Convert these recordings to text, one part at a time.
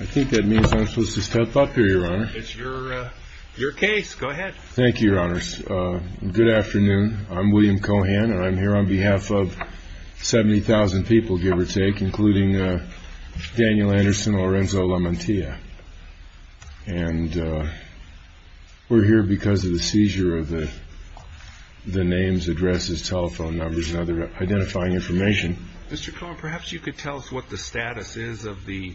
I think that means I'm supposed to step up here, Your Honor. It's your case. Go ahead. Thank you, Your Honors. Good afternoon. I'm William Cohan, and I'm here on behalf of 70,000 people, give or take, including Daniel Anderson and Lorenzo Lamantia. And we're here because of the seizure of the names, addresses, telephone numbers, and other identifying information. Mr. Cohan, perhaps you could tell us what the status is of the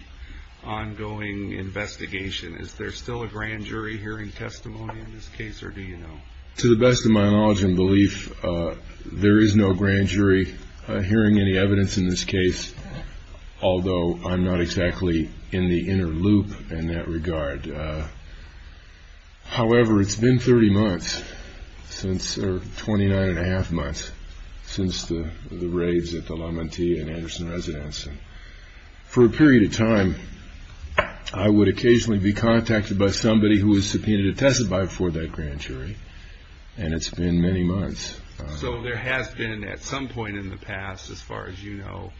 ongoing investigation. Is there still a grand jury hearing testimony in this case, or do you know? To the best of my knowledge and belief, there is no grand jury hearing any evidence in this case, although I'm not exactly in the inner loop in that regard. However, it's been 30 months, or 29 and a half months, since the raids at the Lamantia and Anderson residence. For a period of time, I would occasionally be contacted by somebody who was subpoenaed a testify before that grand jury, and it's been many months. So there has been at some point in the past, as far as you know,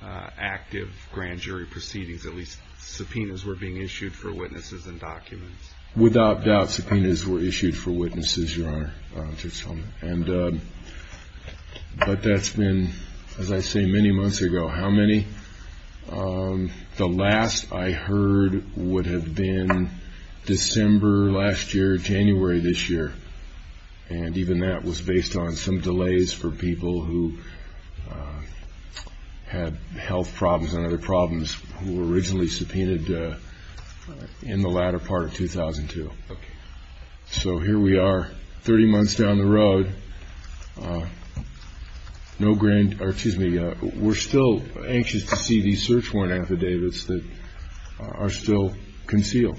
active grand jury proceedings. At least subpoenas were being issued for witnesses and documents. Without doubt, subpoenas were issued for witnesses, Your Honor. But that's been, as I say, many months ago. How many? The last I heard would have been December last year, January this year, and even that was based on some delays for people who had health problems and other problems who were originally subpoenaed in the latter part of 2002. So here we are, 30 months down the road. We're still anxious to see these search warrant affidavits that are still concealed.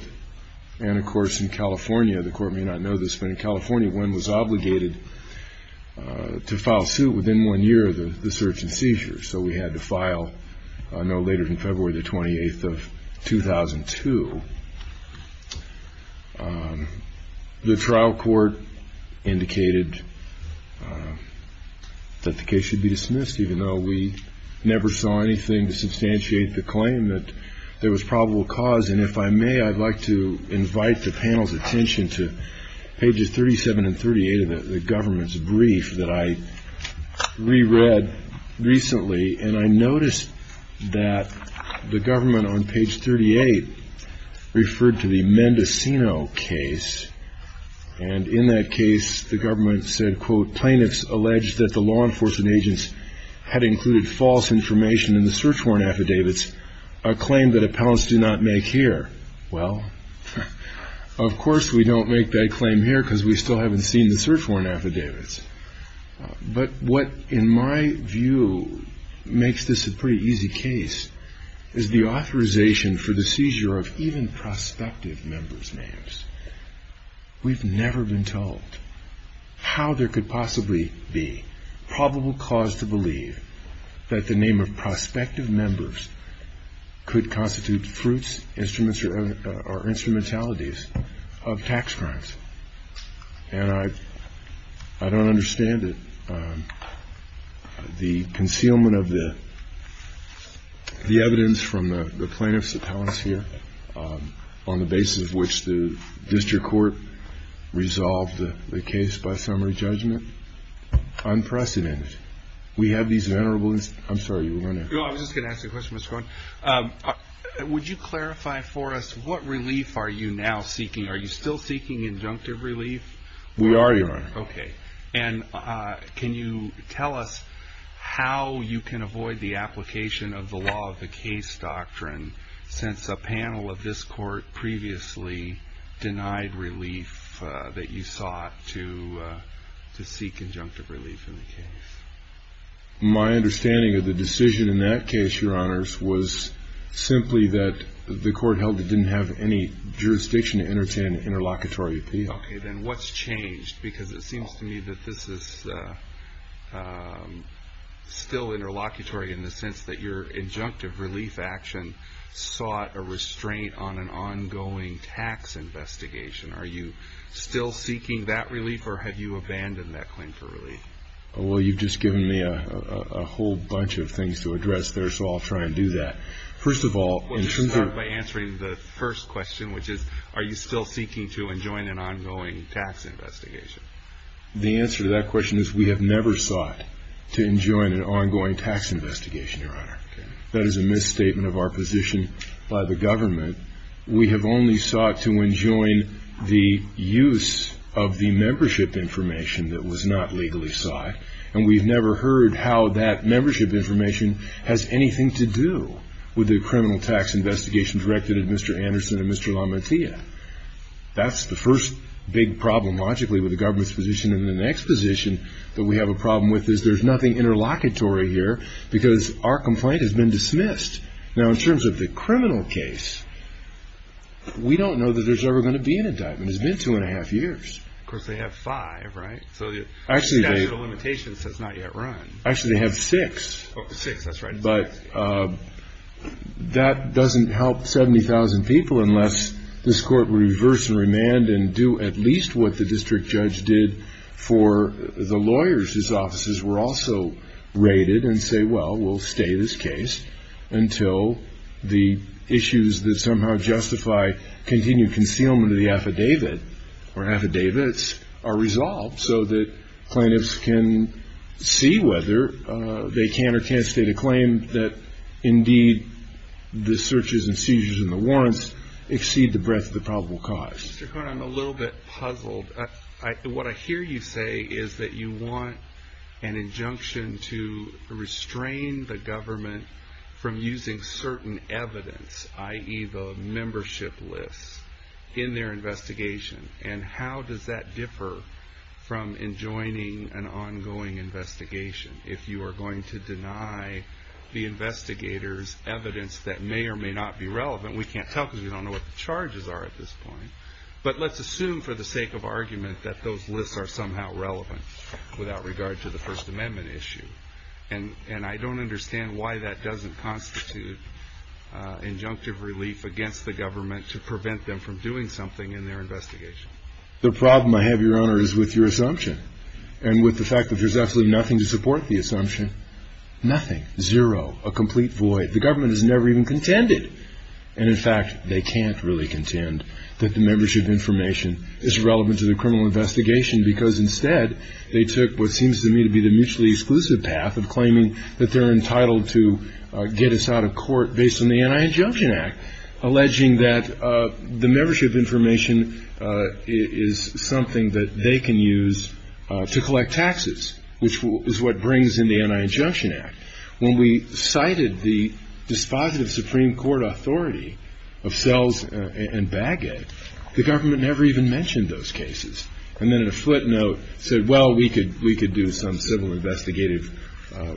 And, of course, in California, the Court may not know this, but in California, one was obligated to file suit within one year of the search and seizure. So we had to file a note later in February the 28th of 2002. The trial court indicated that the case should be dismissed, even though we never saw anything to substantiate the claim that there was probable cause. And if I may, I'd like to invite the panel's attention to pages 37 and 38 of the government's brief that I reread recently, and I noticed that the government on page 38 referred to the Mendocino case. And in that case, the government said, quote, plaintiffs alleged that the law enforcement agents had included false information in the search warrant affidavits, a claim that appellants do not make here. Well, of course we don't make that claim here because we still haven't seen the search warrant affidavits. But what, in my view, makes this a pretty easy case is the authorization for the seizure of even prospective members' names. We've never been told how there could possibly be probable cause to believe that the name of prospective members could constitute fruits, instruments, or instrumentalities of tax crimes. And I don't understand it. The concealment of the evidence from the plaintiffs' appellants here, on the basis of which the district court resolved the case by summary judgment, unprecedented. We have these venerable inst- I'm sorry, you were going to- No, I was just going to ask you a question, Mr. Cohen. Would you clarify for us what relief are you now seeking? Are you still seeking injunctive relief? We already are. Okay. And can you tell us how you can avoid the application of the law of the case doctrine since a panel of this court previously denied relief that you sought to seek injunctive relief in the case? My understanding of the decision in that case, Your Honors, was simply that the court held it didn't have any jurisdiction to entertain an interlocutory appeal. Okay. Then what's changed? Because it seems to me that this is still interlocutory in the sense that your injunctive relief action sought a restraint on an ongoing tax investigation. Are you still seeking that relief, or have you abandoned that claim for relief? Well, you've just given me a whole bunch of things to address there, so I'll try and do that. First of all- I'll start by answering the first question, which is, are you still seeking to enjoin an ongoing tax investigation? The answer to that question is we have never sought to enjoin an ongoing tax investigation, Your Honor. That is a misstatement of our position by the government. We have only sought to enjoin the use of the membership information that was not legally sought, and we've never heard how that membership information has anything to do with the criminal tax investigation directed at Mr. Anderson and Mr. LaMattea. That's the first big problem, logically, with the government's position. And the next position that we have a problem with is there's nothing interlocutory here because our complaint has been dismissed. Now, in terms of the criminal case, we don't know that there's ever going to be an indictment. It's been two and a half years. Of course, they have five, right? So the statute of limitations has not yet run. Actually, they have six. Oh, six, that's right. But that doesn't help 70,000 people unless this Court would reverse and remand and do at least what the district judge did for the lawyers. His offices were also raided and say, well, we'll stay this case until the issues that somehow justify continued concealment of the affidavit or affidavits are resolved. So that plaintiffs can see whether they can or can't state a claim that, indeed, the searches and seizures and the warrants exceed the breadth of the probable cause. Mr. Cohen, I'm a little bit puzzled. What I hear you say is that you want an injunction to restrain the government from using certain evidence, i.e., the membership list, in their investigation. And how does that differ from enjoining an ongoing investigation if you are going to deny the investigators evidence that may or may not be relevant? We can't tell because we don't know what the charges are at this point. But let's assume for the sake of argument that those lists are somehow relevant without regard to the First Amendment issue. And I don't understand why that doesn't constitute injunctive relief against the government to prevent them from doing something in their investigation. The problem I have, Your Honor, is with your assumption and with the fact that there's absolutely nothing to support the assumption. Nothing, zero, a complete void. The government has never even contended. And, in fact, they can't really contend that the membership information is relevant to the criminal investigation because, instead, they took what seems to me to be the mutually exclusive path of claiming that they're entitled to get us out of court based on the Anti-Injunction Act, alleging that the membership information is something that they can use to collect taxes, which is what brings in the Anti-Injunction Act. When we cited the dispositive Supreme Court authority of Sells and Baggett, the government never even mentioned those cases. And then in a footnote said, well, we could do some civil investigative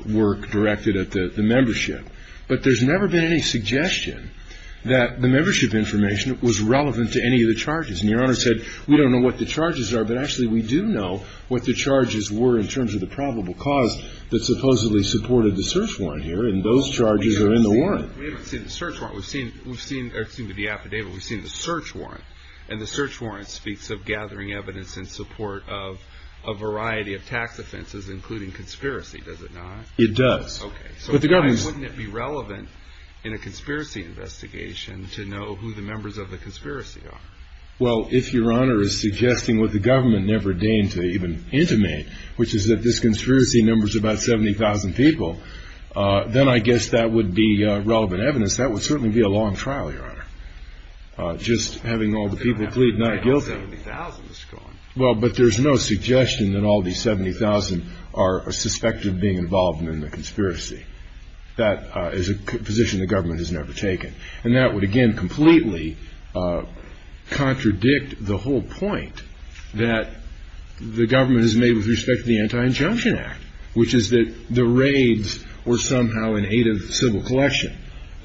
work directed at the membership. But there's never been any suggestion that the membership information was relevant to any of the charges. And Your Honor said, we don't know what the charges are, but actually we do know what the charges were in terms of the probable cause that supposedly supported the search warrant here, and those charges are in the warrant. We haven't seen the search warrant. We've seen the affidavit. We've seen the search warrant. And the search warrant speaks of gathering evidence in support of a variety of tax offenses, including conspiracy, does it not? It does. Okay. So why wouldn't it be relevant in a conspiracy investigation to know who the members of the conspiracy are? Well, if Your Honor is suggesting what the government never deigned to even intimate, which is that this conspiracy numbers about 70,000 people, then I guess that would be relevant evidence. That would certainly be a long trial, Your Honor, just having all the people plead not guilty. 70,000 is gone. Well, but there's no suggestion that all these 70,000 are suspected of being involved in the conspiracy. That is a position the government has never taken. And that would, again, completely contradict the whole point that the government has made with respect to the Anti-Injunction Act, which is that the raids were somehow in aid of civil collection.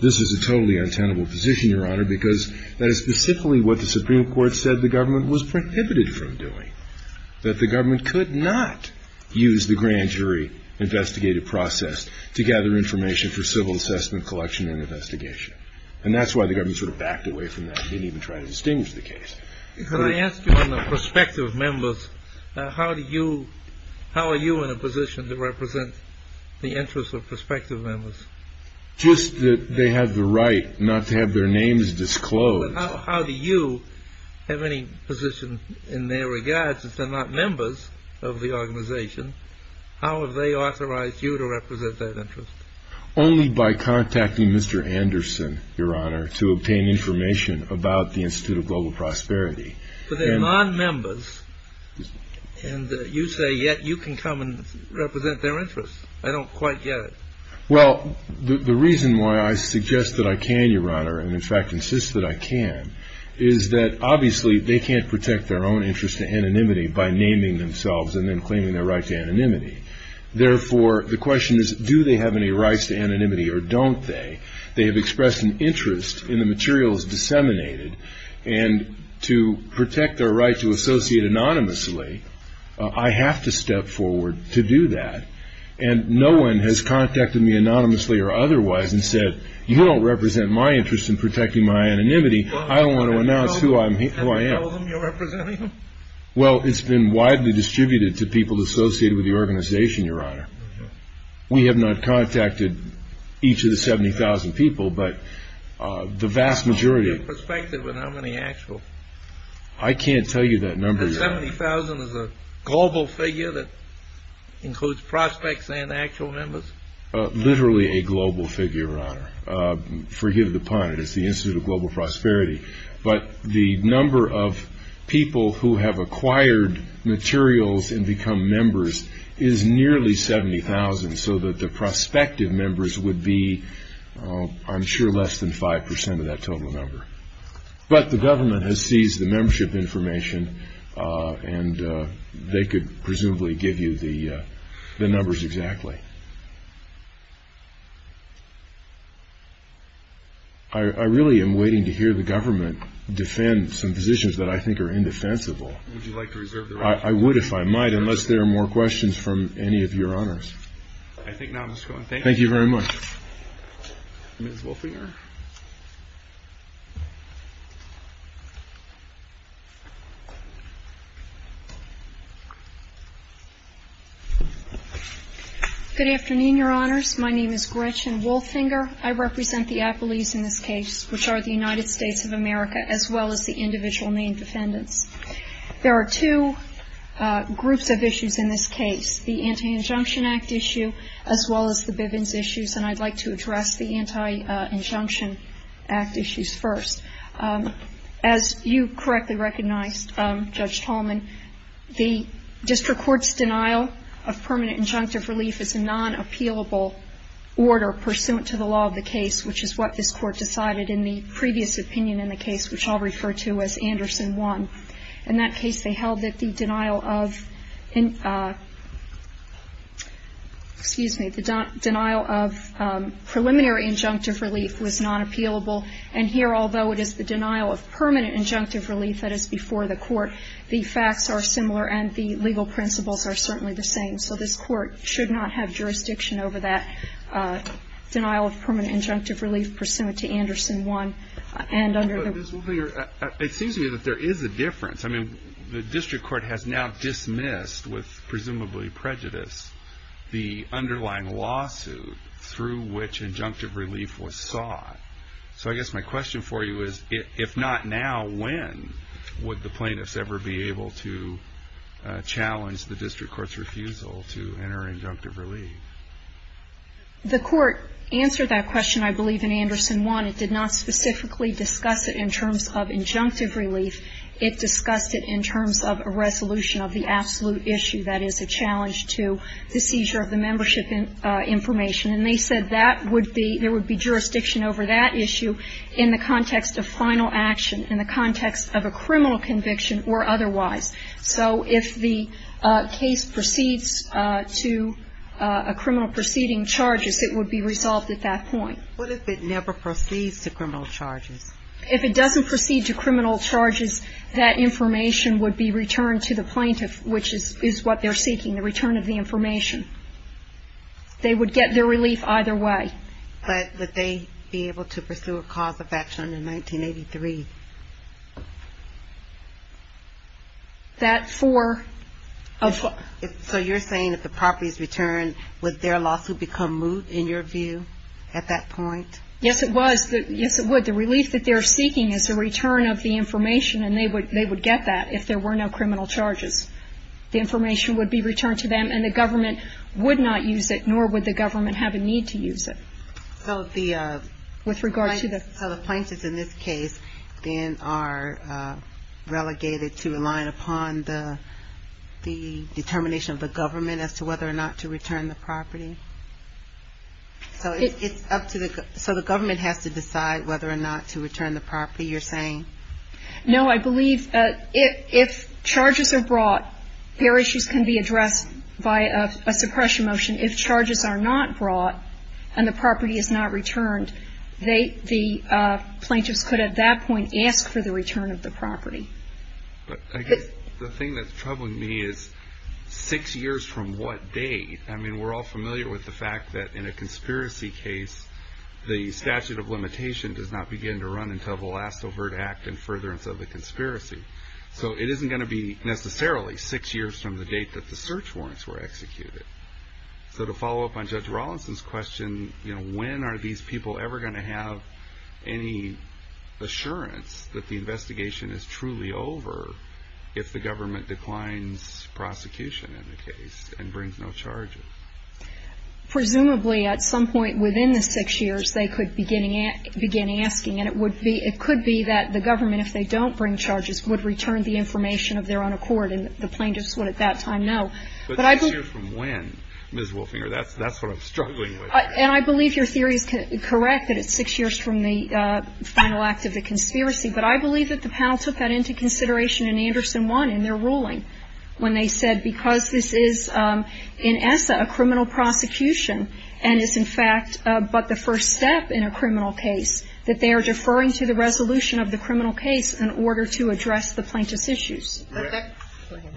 This is a totally untenable position, Your Honor, because that is specifically what the Supreme Court said the government was prohibited from doing, that the government could not use the grand jury investigative process to gather information for civil assessment, collection, and investigation. And that's why the government sort of backed away from that and didn't even try to distinguish the case. Could I ask you on the prospective members, how are you in a position to represent the interests of prospective members? Just that they have the right not to have their names disclosed. How do you have any position in their regards, since they're not members of the organization? How have they authorized you to represent that interest? Only by contacting Mr. Anderson, Your Honor, to obtain information about the Institute of Global Prosperity. But they're non-members, and you say yet you can come and represent their interests. I don't quite get it. Well, the reason why I suggest that I can, Your Honor, and in fact insist that I can, is that obviously they can't protect their own interest to anonymity by naming themselves and then claiming their right to anonymity. Therefore, the question is, do they have any rights to anonymity or don't they? They have expressed an interest in the materials disseminated, and to protect their right to associate anonymously, I have to step forward to do that. And no one has contacted me anonymously or otherwise and said, you don't represent my interest in protecting my anonymity. I don't want to announce who I am. Have you told them you're representing them? Well, it's been widely distributed to people associated with the organization, Your Honor. We have not contacted each of the 70,000 people, but the vast majority. What's your perspective on how many actual? I can't tell you that number, Your Honor. 70,000 is a global figure that includes prospects and actual members? Literally a global figure, Your Honor. Forgive the pun. It's the Institute of Global Prosperity. But the number of people who have acquired materials and become members is nearly 70,000, so that the prospective members would be, I'm sure, less than 5% of that total number. But the government has seized the membership information and they could presumably give you the numbers exactly. I really am waiting to hear the government defend some positions that I think are indefensible. Would you like to reserve the record? I would if I might, unless there are more questions from any of Your Honors. I think not, Mr. Cohen. Thank you. Thank you very much. Ms. Wolfinger. Good afternoon, Your Honors. My name is Gretchen Wolfinger. I represent the appellees in this case, which are the United States of America, as well as the individual named defendants. There are two groups of issues in this case, the Anti-Injunction Act issue, as well as the Bivens issues, and I'd like to address the Anti-Injunction Act issues first. As you correctly recognized, Judge Tallman, the district court's denial of permanent injunctive relief is a non-appealable order pursuant to the law of the case, which is what this court decided in the previous opinion in the case, which I'll refer to as Anderson 1. In that case, they held that the denial of preliminary injunctive relief was non-appealable, and here, although it is the denial of permanent injunctive relief that is before the court, the facts are similar and the legal principles are certainly the same. So this court should not have jurisdiction over that denial of permanent injunctive relief pursuant to Anderson 1. It seems to me that there is a difference. I mean, the district court has now dismissed, with presumably prejudice, the underlying lawsuit through which injunctive relief was sought. So I guess my question for you is, if not now, when would the plaintiffs ever be able to challenge the district court's refusal to enter injunctive relief? The court answered that question, I believe, in Anderson 1. It did not specifically discuss it in terms of injunctive relief. It discussed it in terms of a resolution of the absolute issue that is a challenge to the seizure of the membership information. And they said that would be, there would be jurisdiction over that issue in the context of final action, in the context of a criminal conviction or otherwise. So if the case proceeds to a criminal proceeding charges, it would be resolved at that point. What if it never proceeds to criminal charges? If it doesn't proceed to criminal charges, that information would be returned to the plaintiff, which is what they're seeking, the return of the information. They would get their relief either way. But would they be able to pursue a cause of action in 1983? That for? So you're saying if the property is returned, would their lawsuit become moot, in your view, at that point? Yes, it was. Yes, it would. The relief that they're seeking is the return of the information, and they would get that if there were no criminal charges. The information would be returned to them, and the government would not use it, nor would the government have a need to use it. So the plaintiffs in this case then are relegated to relying upon the determination of the government as to whether or not to return the property? So it's up to the government. So the government has to decide whether or not to return the property, you're saying? No, I believe if charges are brought, their issues can be addressed by a suppression motion. If charges are not brought and the property is not returned, the plaintiffs could at that point ask for the return of the property. I guess the thing that's troubling me is six years from what date? I mean, we're all familiar with the fact that in a conspiracy case, the statute of limitation does not begin to run until the last overt act and furtherance of the conspiracy. So it isn't going to be necessarily six years from the date that the search warrants were executed. So to follow up on Judge Rawlinson's question, when are these people ever going to have any assurance that the investigation is truly over if the government declines prosecution in the case and brings no charges? Presumably at some point within the six years, they could begin asking, and it could be that the government, if they don't bring charges, would return the information of their own accord, and the plaintiffs would at that time know. But six years from when, Ms. Wolfinger, that's what I'm struggling with. And I believe your theory is correct that it's six years from the final act of the conspiracy. But I believe that the panel took that into consideration in Anderson 1 in their ruling when they said because this is, in ESSA, a criminal prosecution, and it's in fact but the first step in a criminal case, that they are deferring to the resolution of the criminal case in order to address the plaintiff's issues.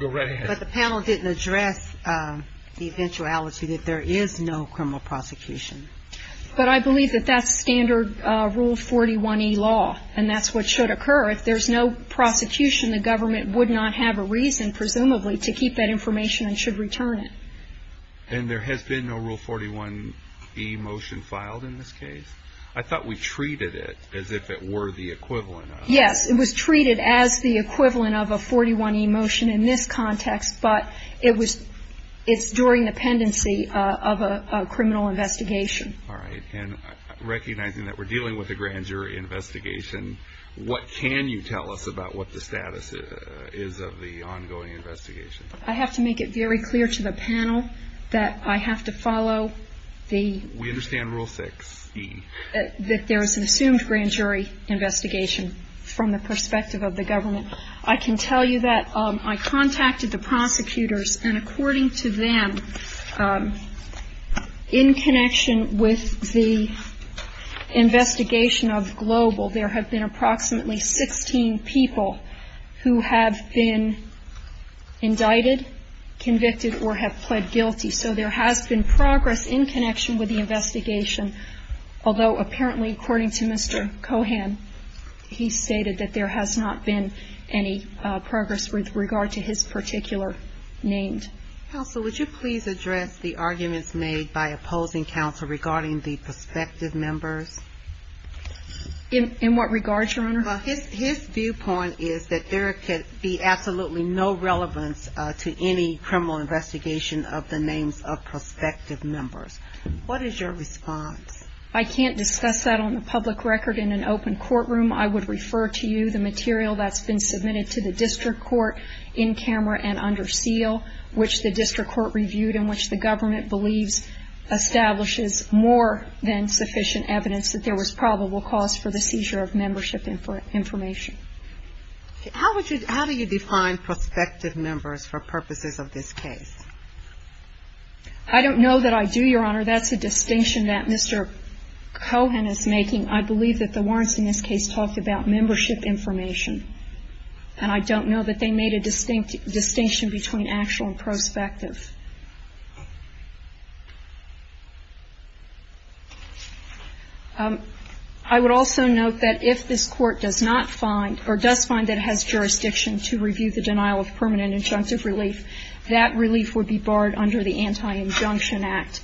Go right ahead. But the panel didn't address the eventuality that there is no criminal prosecution. But I believe that that's standard Rule 41E law, and that's what should occur. If there's no prosecution, the government would not have a reason, presumably, to keep that information and should return it. And there has been no Rule 41E motion filed in this case? I thought we treated it as if it were the equivalent of it. But it's during the pendency of a criminal investigation. All right. And recognizing that we're dealing with a grand jury investigation, what can you tell us about what the status is of the ongoing investigation? I have to make it very clear to the panel that I have to follow the rule. We understand Rule 6E. That there is an assumed grand jury investigation from the perspective of the government. I can tell you that I contacted the prosecutors, and according to them, in connection with the investigation of Global, there have been approximately 16 people who have been indicted, convicted, or have pled guilty. So there has been progress in connection with the investigation, although apparently, according to Mr. Cohan, he stated that there has not been any progress with regard to his particular name. Counsel, would you please address the arguments made by opposing counsel regarding the prospective members? In what regard, Your Honor? Well, his viewpoint is that there could be absolutely no relevance to any criminal investigation of the names of prospective members. What is your response? I can't discuss that on the public record in an open courtroom. I would refer to you the material that's been submitted to the district court in camera and under seal, which the district court reviewed and which the government believes establishes more than sufficient evidence that there was probable cause for the seizure of membership information. How would you ñ how do you define prospective members for purposes of this case? I don't know that I do, Your Honor. That's a distinction that Mr. Cohan is making. I believe that the warrants in this case talk about membership information, and I don't know that they made a distinct distinction between actual and prospective. I would also note that if this court does not find, or does find that it has jurisdiction to review the denial of permanent injunctive relief, that relief would be barred under the Anti-Injunction Act.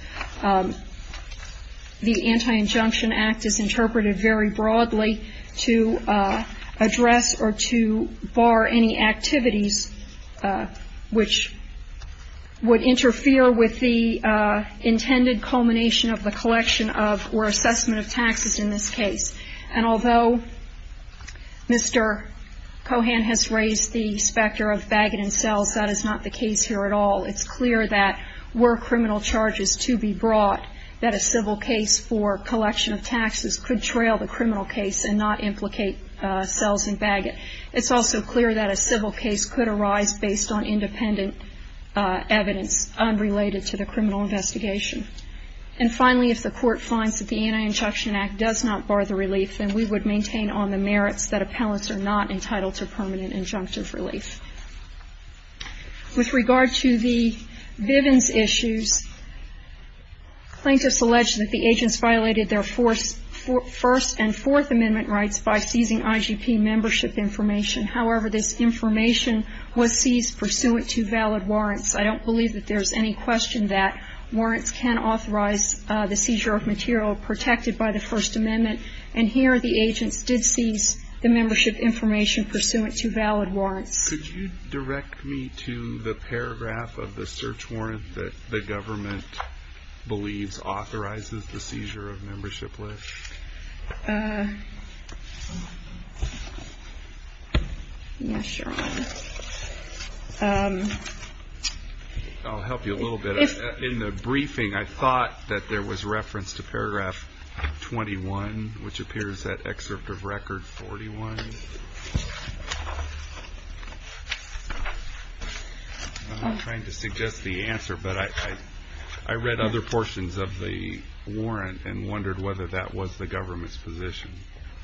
The Anti-Injunction Act is interpreted very broadly to address or to bar any activities which would interfere with the intended culmination of the collection of or assessment of taxes in this case. And although Mr. Cohan has raised the specter of baggot and cells, that is not the case here at all. It's clear that were criminal charges to be brought, that a civil case for collection of taxes could trail the criminal case and not implicate cells and baggot. It's also clear that a civil case could arise based on independent evidence unrelated to the criminal investigation. And finally, if the court finds that the Anti-Injunction Act does not bar the relief, then we would maintain on the merits that appellants are not entitled to permanent injunctive relief. With regard to the Bivens issues, plaintiffs allege that the agents violated their First and Fourth Amendment rights by seizing IGP membership information. However, this information was seized pursuant to valid warrants. I don't believe that there's any question that warrants can authorize the seizure of material protected by the First Amendment. And here the agents did seize the membership information pursuant to valid warrants. Could you direct me to the paragraph of the search warrant that the government believes authorizes the seizure of membership? I'll help you a little bit. In the briefing, I thought that there was reference to paragraph 21, which appears at excerpt of record 41. I'm not trying to suggest the answer, but I read other portions of the warrant and wondered whether that was the government's position.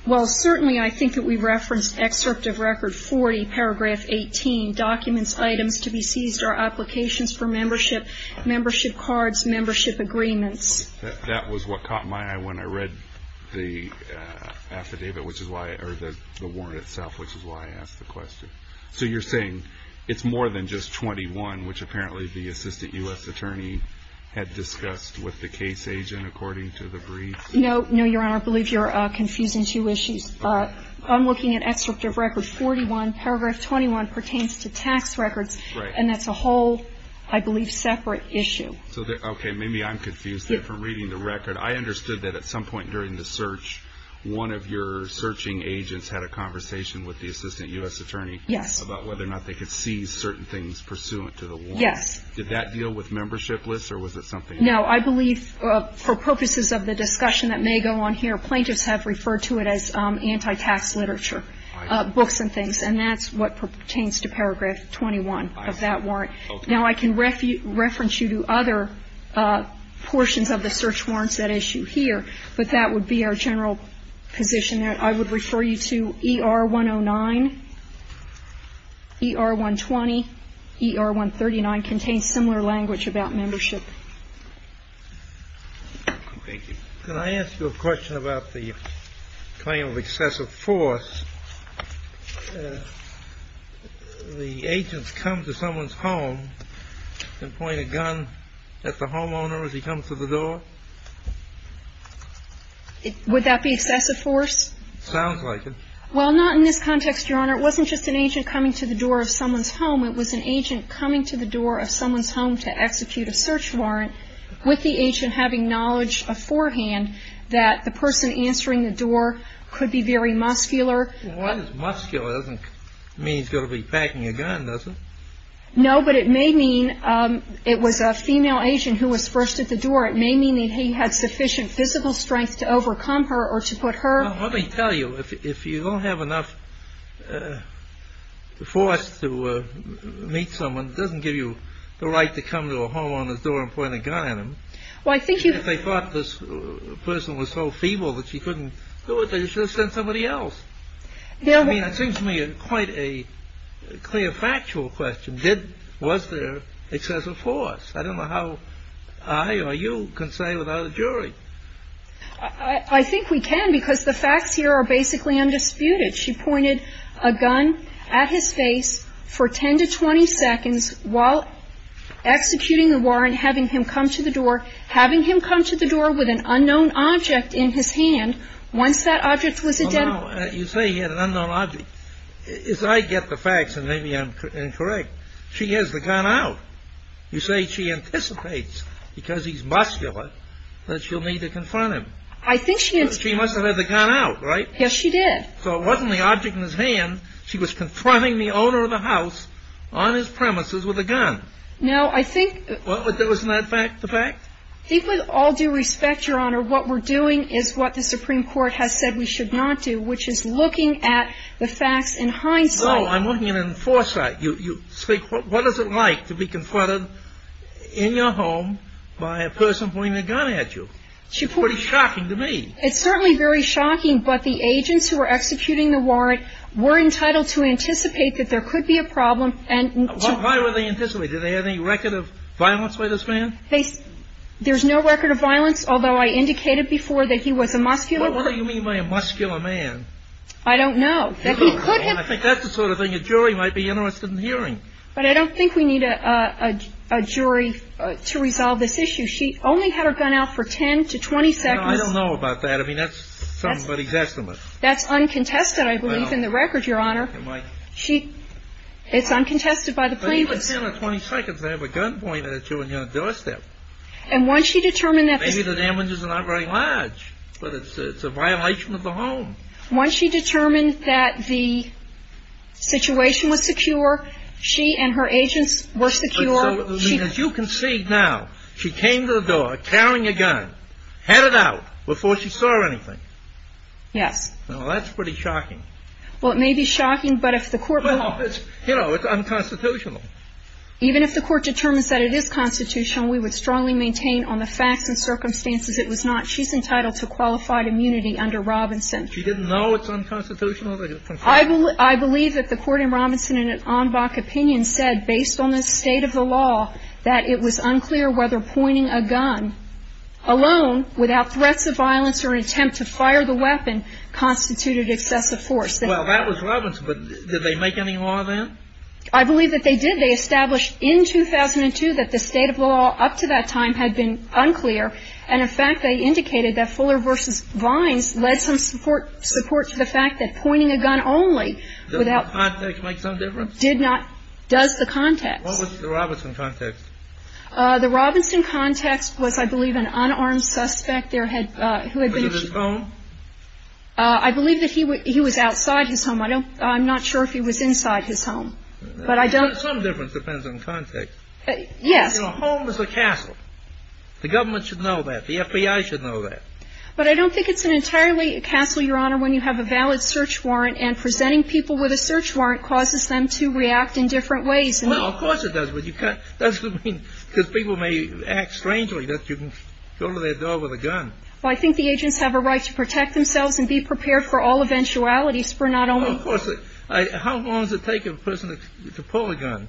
Well, certainly I think that we referenced excerpt of record 40, paragraph 18, to be seized are applications for membership, membership cards, membership agreements. That was what caught my eye when I read the affidavit, which is why – or the warrant itself, which is why I asked the question. So you're saying it's more than just 21, which apparently the assistant U.S. attorney had discussed with the case agent, according to the brief? No, no, Your Honor. I believe you're confusing two issues. I'm looking at excerpt of record 41. Paragraph 21 pertains to tax records, and that's a whole, I believe, separate issue. Okay, maybe I'm confused there from reading the record. I understood that at some point during the search, one of your searching agents had a conversation with the assistant U.S. attorney about whether or not they could seize certain things pursuant to the warrant. Yes. Did that deal with membership lists, or was it something else? No, I believe for purposes of the discussion that may go on here, plaintiffs have referred to it as anti-tax literature, books and things, and that's what pertains to paragraph 21 of that warrant. Now, I can reference you to other portions of the search warrants at issue here, but that would be our general position there. I would refer you to ER 109, ER 120, ER 139 contains similar language about membership. Can I ask you a question about the claim of excessive force? The agents come to someone's home and point a gun at the homeowner as he comes to the door? Would that be excessive force? Sounds like it. Well, not in this context, Your Honor. It wasn't just an agent coming to the door of someone's home. It was an agent coming to the door of someone's home to execute a search warrant with the agent having knowledge of forehand that the person answering the door could be very muscular. Well, muscular doesn't mean he's going to be packing a gun, does it? No, but it may mean it was a female agent who was first at the door. It may mean that he had sufficient physical strength to overcome her or to put her. Well, let me tell you, if you don't have enough force to meet someone, it doesn't give you the right to come to a homeowner's door and point a gun at him. Well, I think you could. If they thought this person was so feeble that she couldn't do it, they should have sent somebody else. I mean, it seems to me quite a clear factual question. Was there excessive force? I don't know how I or you can say without a jury. I think we can because the facts here are basically undisputed. She pointed a gun at his face for 10 to 20 seconds while executing the warrant, having him come to the door, having him come to the door with an unknown object in his hand. Once that object was identified. You say he had an unknown object. If I get the facts and maybe I'm incorrect, she has the gun out. You say she anticipates because he's muscular that she'll need to confront him. She must have had the gun out, right? Yes, she did. So it wasn't the object in his hand. She was confronting the owner of the house on his premises with a gun. No, I think. Wasn't that fact the fact? I think with all due respect, Your Honor, what we're doing is what the Supreme Court has said we should not do, which is looking at the facts in hindsight. No, I'm looking at it in foresight. You speak. What is it like to be confronted in your home by a person pointing a gun at you? It's pretty shocking to me. It's certainly very shocking. But the agents who were executing the warrant were entitled to anticipate that there could be a problem. Why were they anticipating? Did they have any record of violence by this man? There's no record of violence, although I indicated before that he was a muscular. What do you mean by a muscular man? I don't know. I think that's the sort of thing a jury might be interested in hearing. But I don't think we need a jury to resolve this issue. She only had her gun out for 10 to 20 seconds. I don't know about that. I mean, that's somebody's estimate. That's uncontested, I believe, in the record, Your Honor. It's uncontested by the plaintiffs. But even 10 or 20 seconds, they have a gun pointed at you on your doorstep. And once she determined that the ---- Maybe the damages are not very large, but it's a violation of the home. Once she determined that the situation was secure, she and her agents were secure, she ---- As you can see now, she came to the door carrying a gun, had it out before she saw anything. Yes. Well, that's pretty shocking. Well, it may be shocking, but if the court ---- Well, it's, you know, it's unconstitutional. Even if the court determines that it is constitutional, we would strongly maintain on the facts and circumstances it was not. She's entitled to qualified immunity under Robinson. She didn't know it's unconstitutional? I believe that the court in Robinson in an en bloc opinion said, based on the state of the law, that it was unclear whether pointing a gun alone, without threats of violence or an attempt to fire the weapon, constituted excessive force. Well, that was Robinson. But did they make any law then? I believe that they did. They established in 2002 that the state of the law up to that time had been unclear. And in fact, they indicated that Fuller v. Vines led some support to the fact that pointing a gun only without ---- Does the context make some difference? Did not. Does the context. What was the Robinson context? The Robinson context was, I believe, an unarmed suspect there who had been ---- Was it his home? I believe that he was outside his home. I don't ---- I'm not sure if he was inside his home. But I don't ---- Some difference depends on context. Yes. You know, home is a castle. The government should know that. The FBI should know that. But I don't think it's an entirely castle, Your Honor, when you have a valid search warrant, and presenting people with a search warrant causes them to react in different ways. Well, of course it does. But you can't ---- That's what I mean. Because people may act strangely that you can go to their door with a gun. Well, I think the agents have a right to protect themselves and be prepared for all eventualities, for not only ---- Well, of course. How long does it take a person to pull a gun?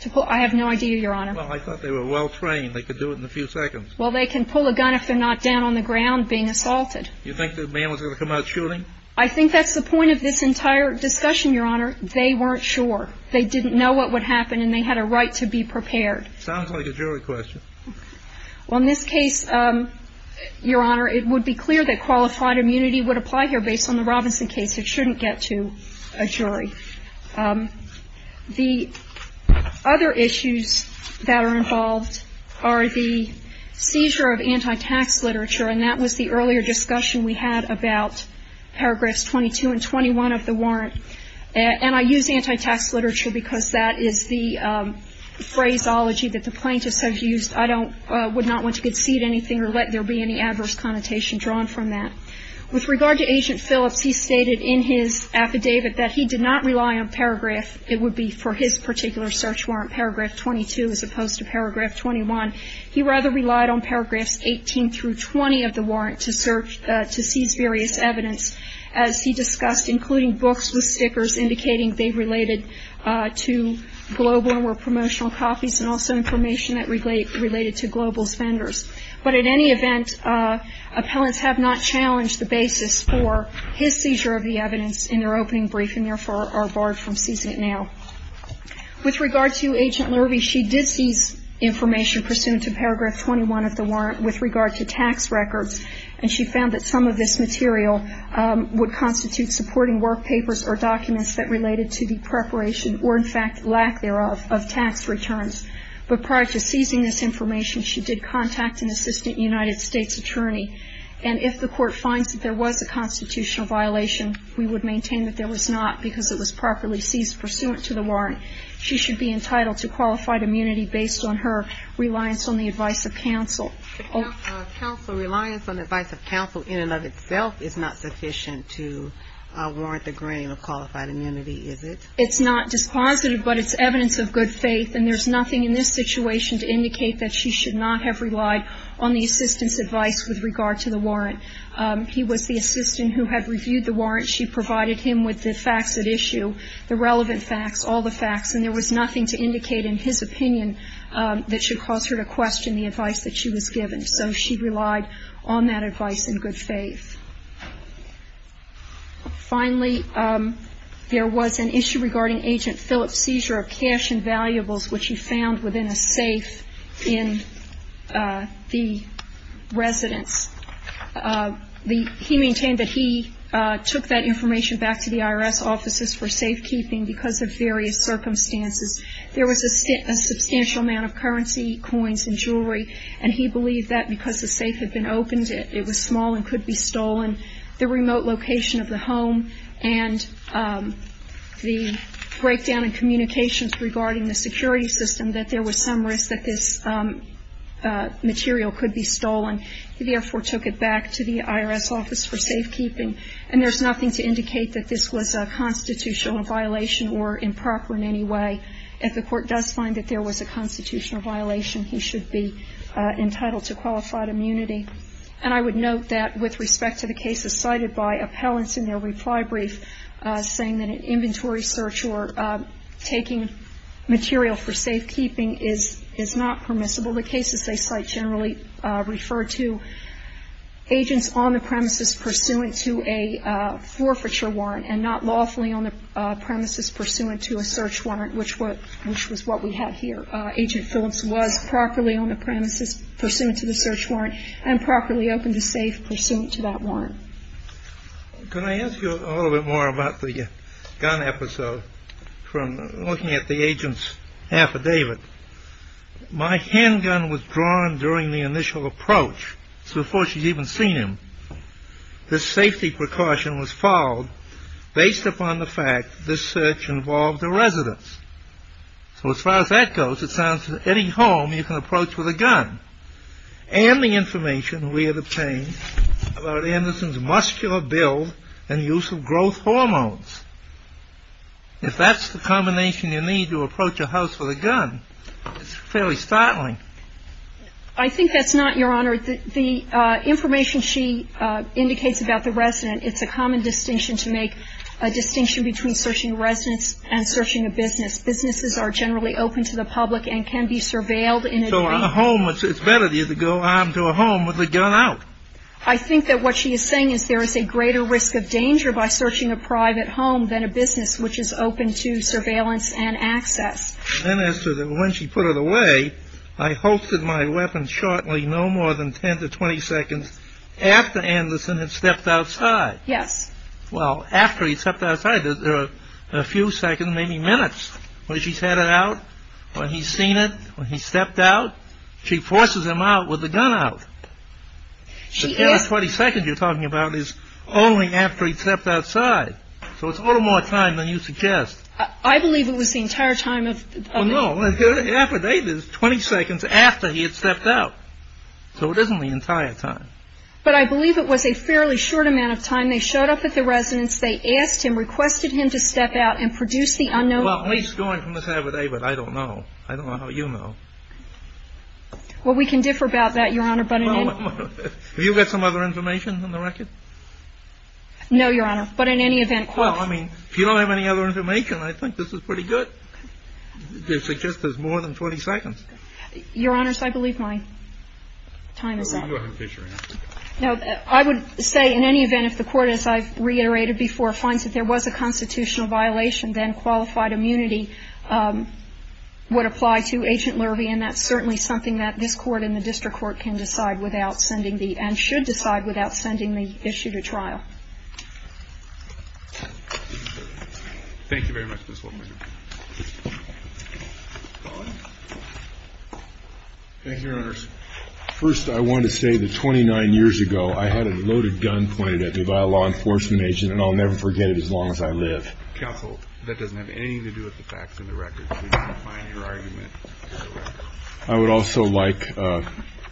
To pull ---- I have no idea, Your Honor. Well, I thought they were well-trained. They could do it in a few seconds. Well, they can pull a gun if they're not down on the ground being assaulted. You think the man was going to come out shooting? I think that's the point of this entire discussion, Your Honor. They weren't sure. They didn't know what would happen, and they had a right to be prepared. Sounds like a jury question. Well, in this case, Your Honor, it would be clear that qualified immunity would apply here, based on the Robinson case. It shouldn't get to a jury. The other issues that are involved are the seizure of anti-tax literature, and that was the earlier discussion we had about paragraphs 22 and 21 of the warrant. And I use anti-tax literature because that is the phraseology that the plaintiffs have used. I don't ---- would not want to concede anything or let there be any adverse connotation drawn from that. With regard to Agent Phillips, he stated in his affidavit that he did not rely on paragraph, it would be for his particular search warrant, paragraph 22, as opposed to paragraph 21. He rather relied on paragraphs 18 through 20 of the warrant to search, to seize various evidence, as he discussed, including books with stickers indicating they related to global or promotional copies and also information that related to global vendors. But at any event, appellants have not challenged the basis for his seizure of the evidence in their opening brief and, therefore, are barred from seizing it now. With regard to Agent Lurvie, she did seize information pursuant to paragraph 21 of the warrant with regard to tax records, and she found that some of this material would constitute supporting work papers or documents that related to the preparation or, in fact, lack thereof of tax returns. But prior to seizing this information, she did contact an assistant United States attorney, and if the court finds that there was a constitutional violation, we would maintain that there was not because it was properly seized pursuant to the warrant. She should be entitled to qualified immunity based on her reliance on the advice of counsel. Counsel, reliance on the advice of counsel in and of itself is not sufficient to warrant the grain of qualified immunity, is it? It's not dispositive, but it's evidence of good faith, and there's nothing in this situation to indicate that she should not have relied on the assistant's advice with regard to the warrant. He was the assistant who had reviewed the warrant. She provided him with the facts at issue, the relevant facts, all the facts, and there was nothing to indicate in his opinion that should cause her to question the advice that she was given. So she relied on that advice in good faith. Finally, there was an issue regarding Agent Phillips' seizure of cash and valuables, which he found within a safe in the residence. He maintained that he took that information back to the IRS offices for safekeeping because of various circumstances. There was a substantial amount of currency, coins, and jewelry, and he believed that because the safe had been opened, it was small and could be stolen. The remote location of the home and the breakdown in communications regarding the security system, that there was some risk that this material could be stolen. He therefore took it back to the IRS office for safekeeping, and there's nothing to indicate that this was a constitutional violation or improper in any way. If the court does find that there was a constitutional violation, he should be entitled to qualified immunity. And I would note that with respect to the cases cited by appellants in their reply brief, saying that an inventory search or taking material for safekeeping is not permissible, the cases they cite generally refer to agents on the premises pursuant to a forfeiture warrant and not lawfully on the premises pursuant to a search warrant, which was what we have here. Agent Phillips was properly on the premises pursuant to the search warrant and properly open to safe pursuant to that warrant. Can I ask you a little bit more about the gun episode from looking at the agent's affidavit? My handgun was drawn during the initial approach. It's before she's even seen him. This safety precaution was followed based upon the fact that this search involved a residence. So as far as that goes, it sounds like any home you can approach with a gun. And the information we have obtained about Anderson's muscular build and use of growth hormones. If that's the combination you need to approach a house with a gun, it's fairly startling. I think that's not, Your Honor. Your Honor, the information she indicates about the resident, it's a common distinction to make a distinction between searching a residence and searching a business. Businesses are generally open to the public and can be surveilled. So on a home, it's better to go armed to a home with a gun out. I think that what she is saying is there is a greater risk of danger by searching a private home than a business which is open to surveillance and access. Then as to when she put it away, I hoisted my weapon shortly no more than 10 to 20 seconds after Anderson had stepped outside. Yes. Well, after he stepped outside, there are a few seconds, maybe minutes, when she's had it out, when he's seen it, when he stepped out. She forces him out with the gun out. The 20 seconds you're talking about is only after he stepped outside. So it's a little more time than you suggest. I believe it was the entire time of the residence. Well, no. The affidavit is 20 seconds after he had stepped out. So it isn't the entire time. But I believe it was a fairly short amount of time. They showed up at the residence. They asked him, requested him to step out and produce the unknown evidence. Well, at least going from the affidavit, I don't know. I don't know how you know. Well, we can differ about that, Your Honor. Have you got some other information on the record? No, Your Honor. But in any event, quote. Well, I mean, if you don't have any other information, I think this is pretty good. They suggest there's more than 20 seconds. Your Honors, I believe my time is up. Go ahead, Fisher. No. I would say in any event, if the Court, as I've reiterated before, finds that there was a constitutional violation, then qualified immunity would apply to Agent Lurvie. And that's certainly something that this Court and the district court can decide without sending the, and should decide without sending the issue to trial. Thank you very much, Ms. Wolfe. Thank you, Your Honors. First, I want to say that 29 years ago, I had a loaded gun pointed at me by a law enforcement agent, and I'll never forget it as long as I live. Counsel, that doesn't have anything to do with the facts in the record. We can't find your argument for the record. I would also like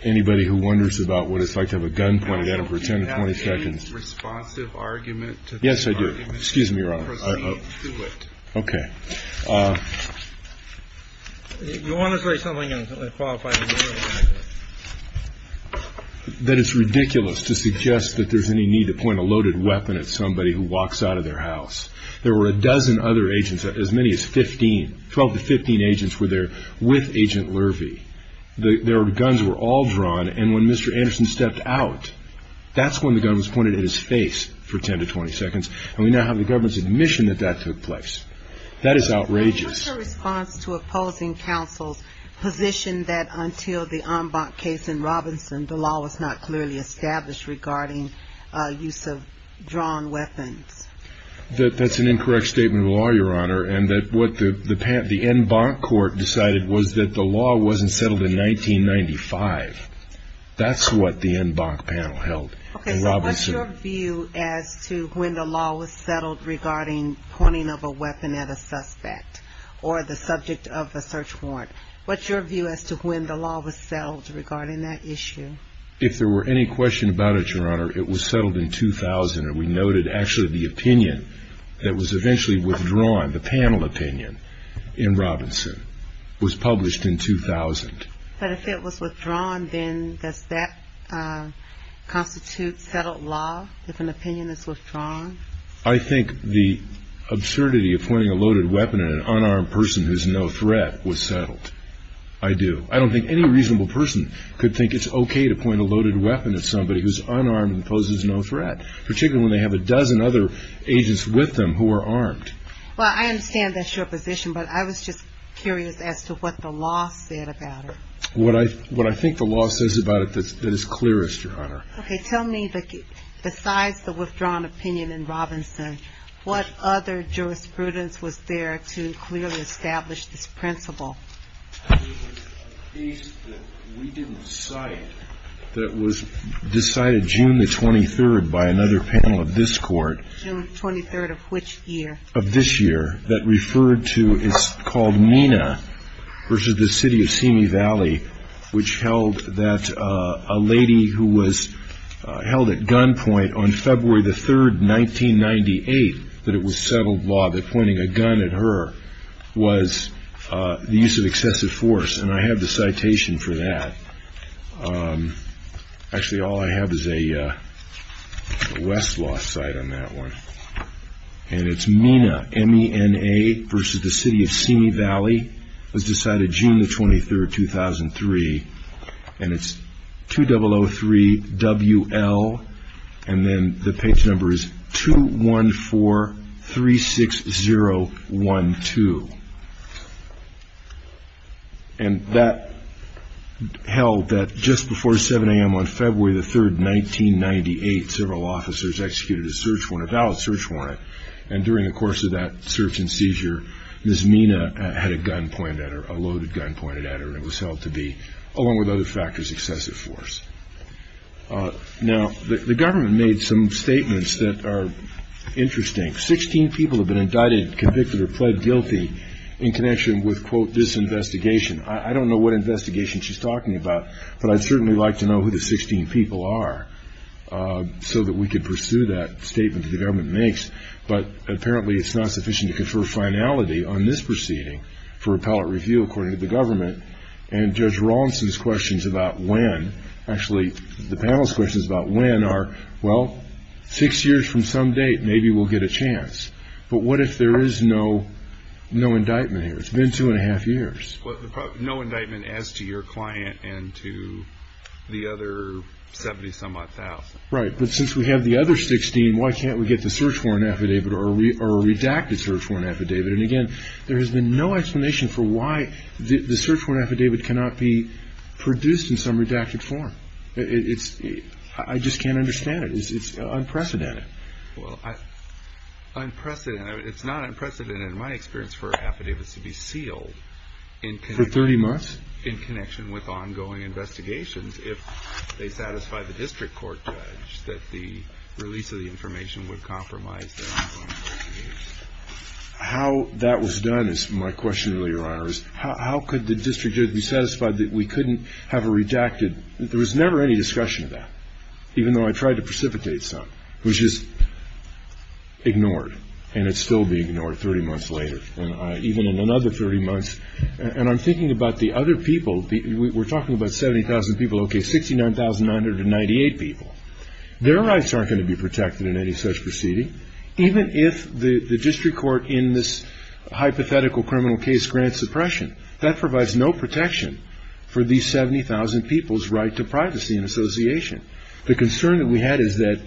anybody who wonders about what it's like to have a gun pointed at them for 10 to 20 seconds. Do you have any responsive argument to this argument? Yes, I do. Excuse me, Your Honor. Proceed to it. Okay. You want to say something on qualified immunity? That it's ridiculous to suggest that there's any need to point a loaded weapon at somebody who walks out of their house. There were a dozen other agents, as many as 15, 12 to 15 agents were there with Agent Lurvie. Their guns were all drawn, and when Mr. Anderson stepped out, that's when the gun was pointed at his face for 10 to 20 seconds, and we now have the government's admission that that took place. That is outrageous. What's your response to opposing counsel's position that until the En Bonk case in Robinson, the law was not clearly established regarding use of drawn weapons? That's an incorrect statement of law, Your Honor, and that what the En Bonk court decided was that the law wasn't settled in 1995. That's what the En Bonk panel held in Robinson. Okay, so what's your view as to when the law was settled regarding pointing of a weapon at a suspect or the subject of a search warrant? What's your view as to when the law was settled regarding that issue? If there were any question about it, Your Honor, it was settled in 2000, and we noted actually the opinion that was eventually withdrawn, the panel opinion in Robinson, was published in 2000. But if it was withdrawn, then does that constitute settled law if an opinion is withdrawn? I think the absurdity of pointing a loaded weapon at an unarmed person who's no threat was settled. I do. I don't think any reasonable person could think it's okay to point a loaded weapon at somebody who's unarmed and poses no threat, particularly when they have a dozen other agents with them who are armed. Well, I understand that's your position, but I was just curious as to what the law said about it. What I think the law says about it that is clearest, Your Honor. Okay, tell me besides the withdrawn opinion in Robinson, what other jurisprudence was there to clearly establish this principle? There was a case that we didn't cite that was decided June the 23rd by another panel of this court. June 23rd of which year? Of this year, that referred to, it's called Mina v. The City of Simi Valley, which held that a lady who was held at gunpoint on February the 3rd, 1998 that it was settled law that pointing a gun at her was the use of excessive force. And I have the citation for that. Actually, all I have is a Westlaw cite on that one. And it's Mina, M-E-N-A, v. The City of Simi Valley. It was decided June the 23rd, 2003. And it's 2003-W-L, and then the page number is 214-360-12. And that held that just before 7 a.m. on February the 3rd, 1998, several officers executed a search warrant, a valid search warrant. And during the course of that search and seizure, Ms. Mina had a gun pointed at her, a loaded gun pointed at her, and it was held to be, along with other factors, excessive force. Now, the government made some statements that are interesting. Sixteen people have been indicted, convicted, or pled guilty in connection with, quote, this investigation. I don't know what investigation she's talking about, but I'd certainly like to know who the 16 people are so that we could pursue that statement that the government makes. But apparently it's not sufficient to confer finality on this proceeding for appellate review, according to the government. And Judge Rawlinson's questions about when, actually, the panel's questions about when are, well, six years from some date, maybe we'll get a chance. But what if there is no indictment here? It's been two and a half years. No indictment as to your client and to the other 70-some-odd thousand. Right, but since we have the other 16, why can't we get the search warrant affidavit or a redacted search warrant affidavit? And, again, there has been no explanation for why the search warrant affidavit cannot be produced in some redacted form. I just can't understand it. It's unprecedented. Unprecedented. It's not unprecedented, in my experience, for affidavits to be sealed. For 30 months? It's in connection with ongoing investigations. If they satisfy the district court judge that the release of the information would compromise their ongoing investigation. How that was done is my question, Your Honor, is how could the district judge be satisfied that we couldn't have a redacted There was never any discussion of that, even though I tried to precipitate some. It was just ignored, and it's still being ignored 30 months later. Even in another 30 months. And I'm thinking about the other people. We're talking about 70,000 people. Okay, 69,998 people. Their rights aren't going to be protected in any such proceeding. Even if the district court in this hypothetical criminal case grants suppression, that provides no protection for these 70,000 people's right to privacy and association. The concern that we had is that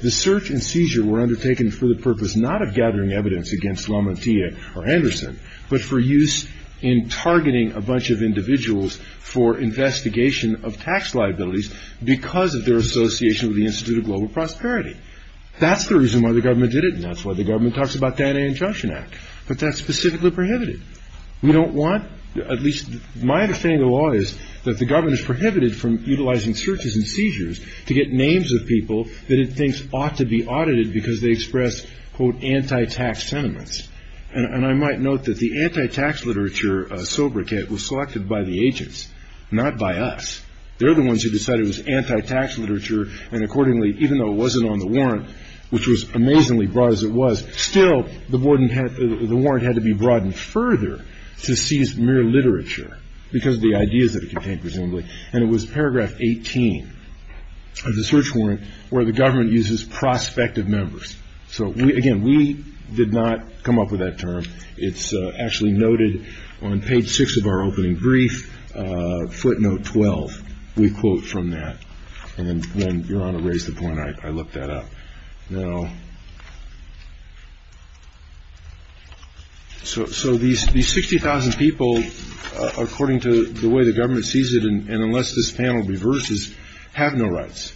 the search and seizure were undertaken for the purpose not of gathering evidence against LaMontilla or Anderson, but for use in targeting a bunch of individuals for investigation of tax liabilities because of their association with the Institute of Global Prosperity. That's the reason why the government did it, and that's why the government talks about the Anti-Injunction Act. But that's specifically prohibited. My understanding of the law is that the government is prohibited from utilizing searches and seizures to get names of people that it thinks ought to be audited because they express, quote, anti-tax sentiments. And I might note that the anti-tax literature sobriquet was selected by the agents, not by us. They're the ones who decided it was anti-tax literature, and accordingly, even though it wasn't on the warrant, which was amazingly broad as it was, still, the warrant had to be broadened further to seize mere literature because of the ideas that it contained, presumably. And it was paragraph 18 of the search warrant where the government uses prospective members. So, again, we did not come up with that term. It's actually noted on page 6 of our opening brief, footnote 12. We quote from that. And then Your Honor raised the point. I looked that up. Now, so these 60,000 people, according to the way the government sees it, and unless this panel reverses, have no rights.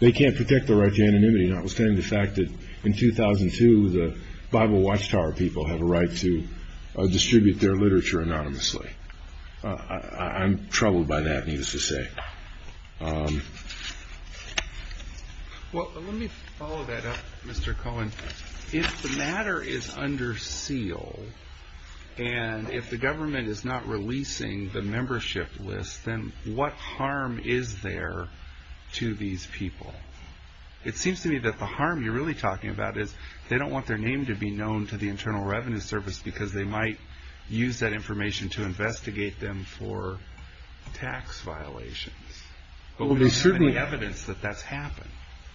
They can't protect their right to anonymity, notwithstanding the fact that in 2002, the Bible Watchtower people have a right to distribute their literature anonymously. I'm troubled by that, needless to say. Well, let me follow that up, Mr. Cohen. If the matter is under seal and if the government is not releasing the membership list, then what harm is there to these people? It seems to me that the harm you're really talking about is they don't want their name to be known to the Internal Revenue Service because they might use that information to investigate them for tax violations. But there's not any evidence that that's happened.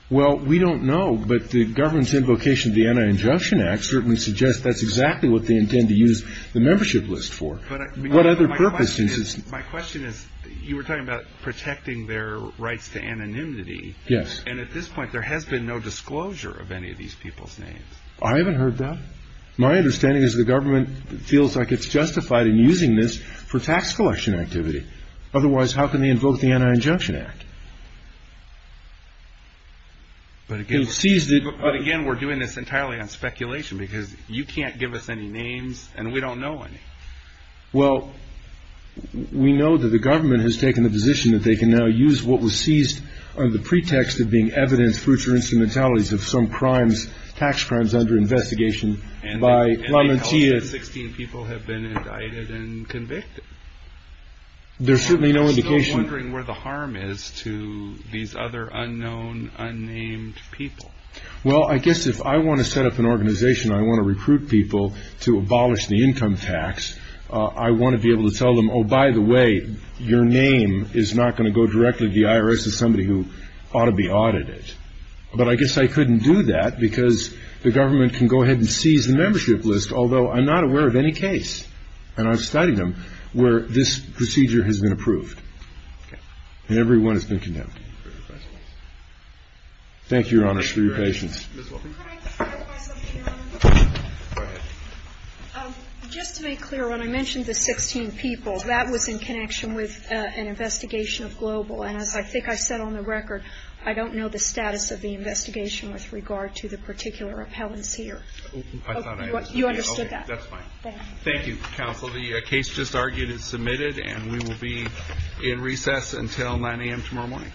Well, we don't know, but the government's invocation of the Anti-Injunction Act certainly suggests that's exactly what they intend to use the membership list for. What other purpose is this? My question is, you were talking about protecting their rights to anonymity. Yes. And at this point, there has been no disclosure of any of these people's names. I haven't heard that. My understanding is the government feels like it's justified in using this for tax collection activity. Otherwise, how can they invoke the Anti-Injunction Act? But again, we're doing this entirely on speculation because you can't give us any names and we don't know any. Well, we know that the government has taken the position that they can now use what was seized under the pretext of being evidence for future instrumentalities of some tax crimes under investigation by lamenteers. And they tell us that 16 people have been indicted and convicted. There's certainly no indication. I'm still wondering where the harm is to these other unknown, unnamed people. Well, I guess if I want to set up an organization, I want to recruit people to abolish the income tax, I want to be able to tell them, oh, by the way, your name is not going to go directly to the IRS. It's somebody who ought to be audited. But I guess I couldn't do that because the government can go ahead and seize the membership list, although I'm not aware of any case, and I've studied them, where this procedure has been approved. And everyone has been condemned. Thank you, Your Honor, for your patience. Could I clarify something, Your Honor? Go ahead. Just to make clear, when I mentioned the 16 people, that was in connection with an investigation of Global. And as I think I said on the record, I don't know the status of the investigation with regard to the particular appellants here. You understood that? That's fine. Thank you, counsel. The case just argued is submitted, and we will be in recess until 9 a.m. tomorrow morning.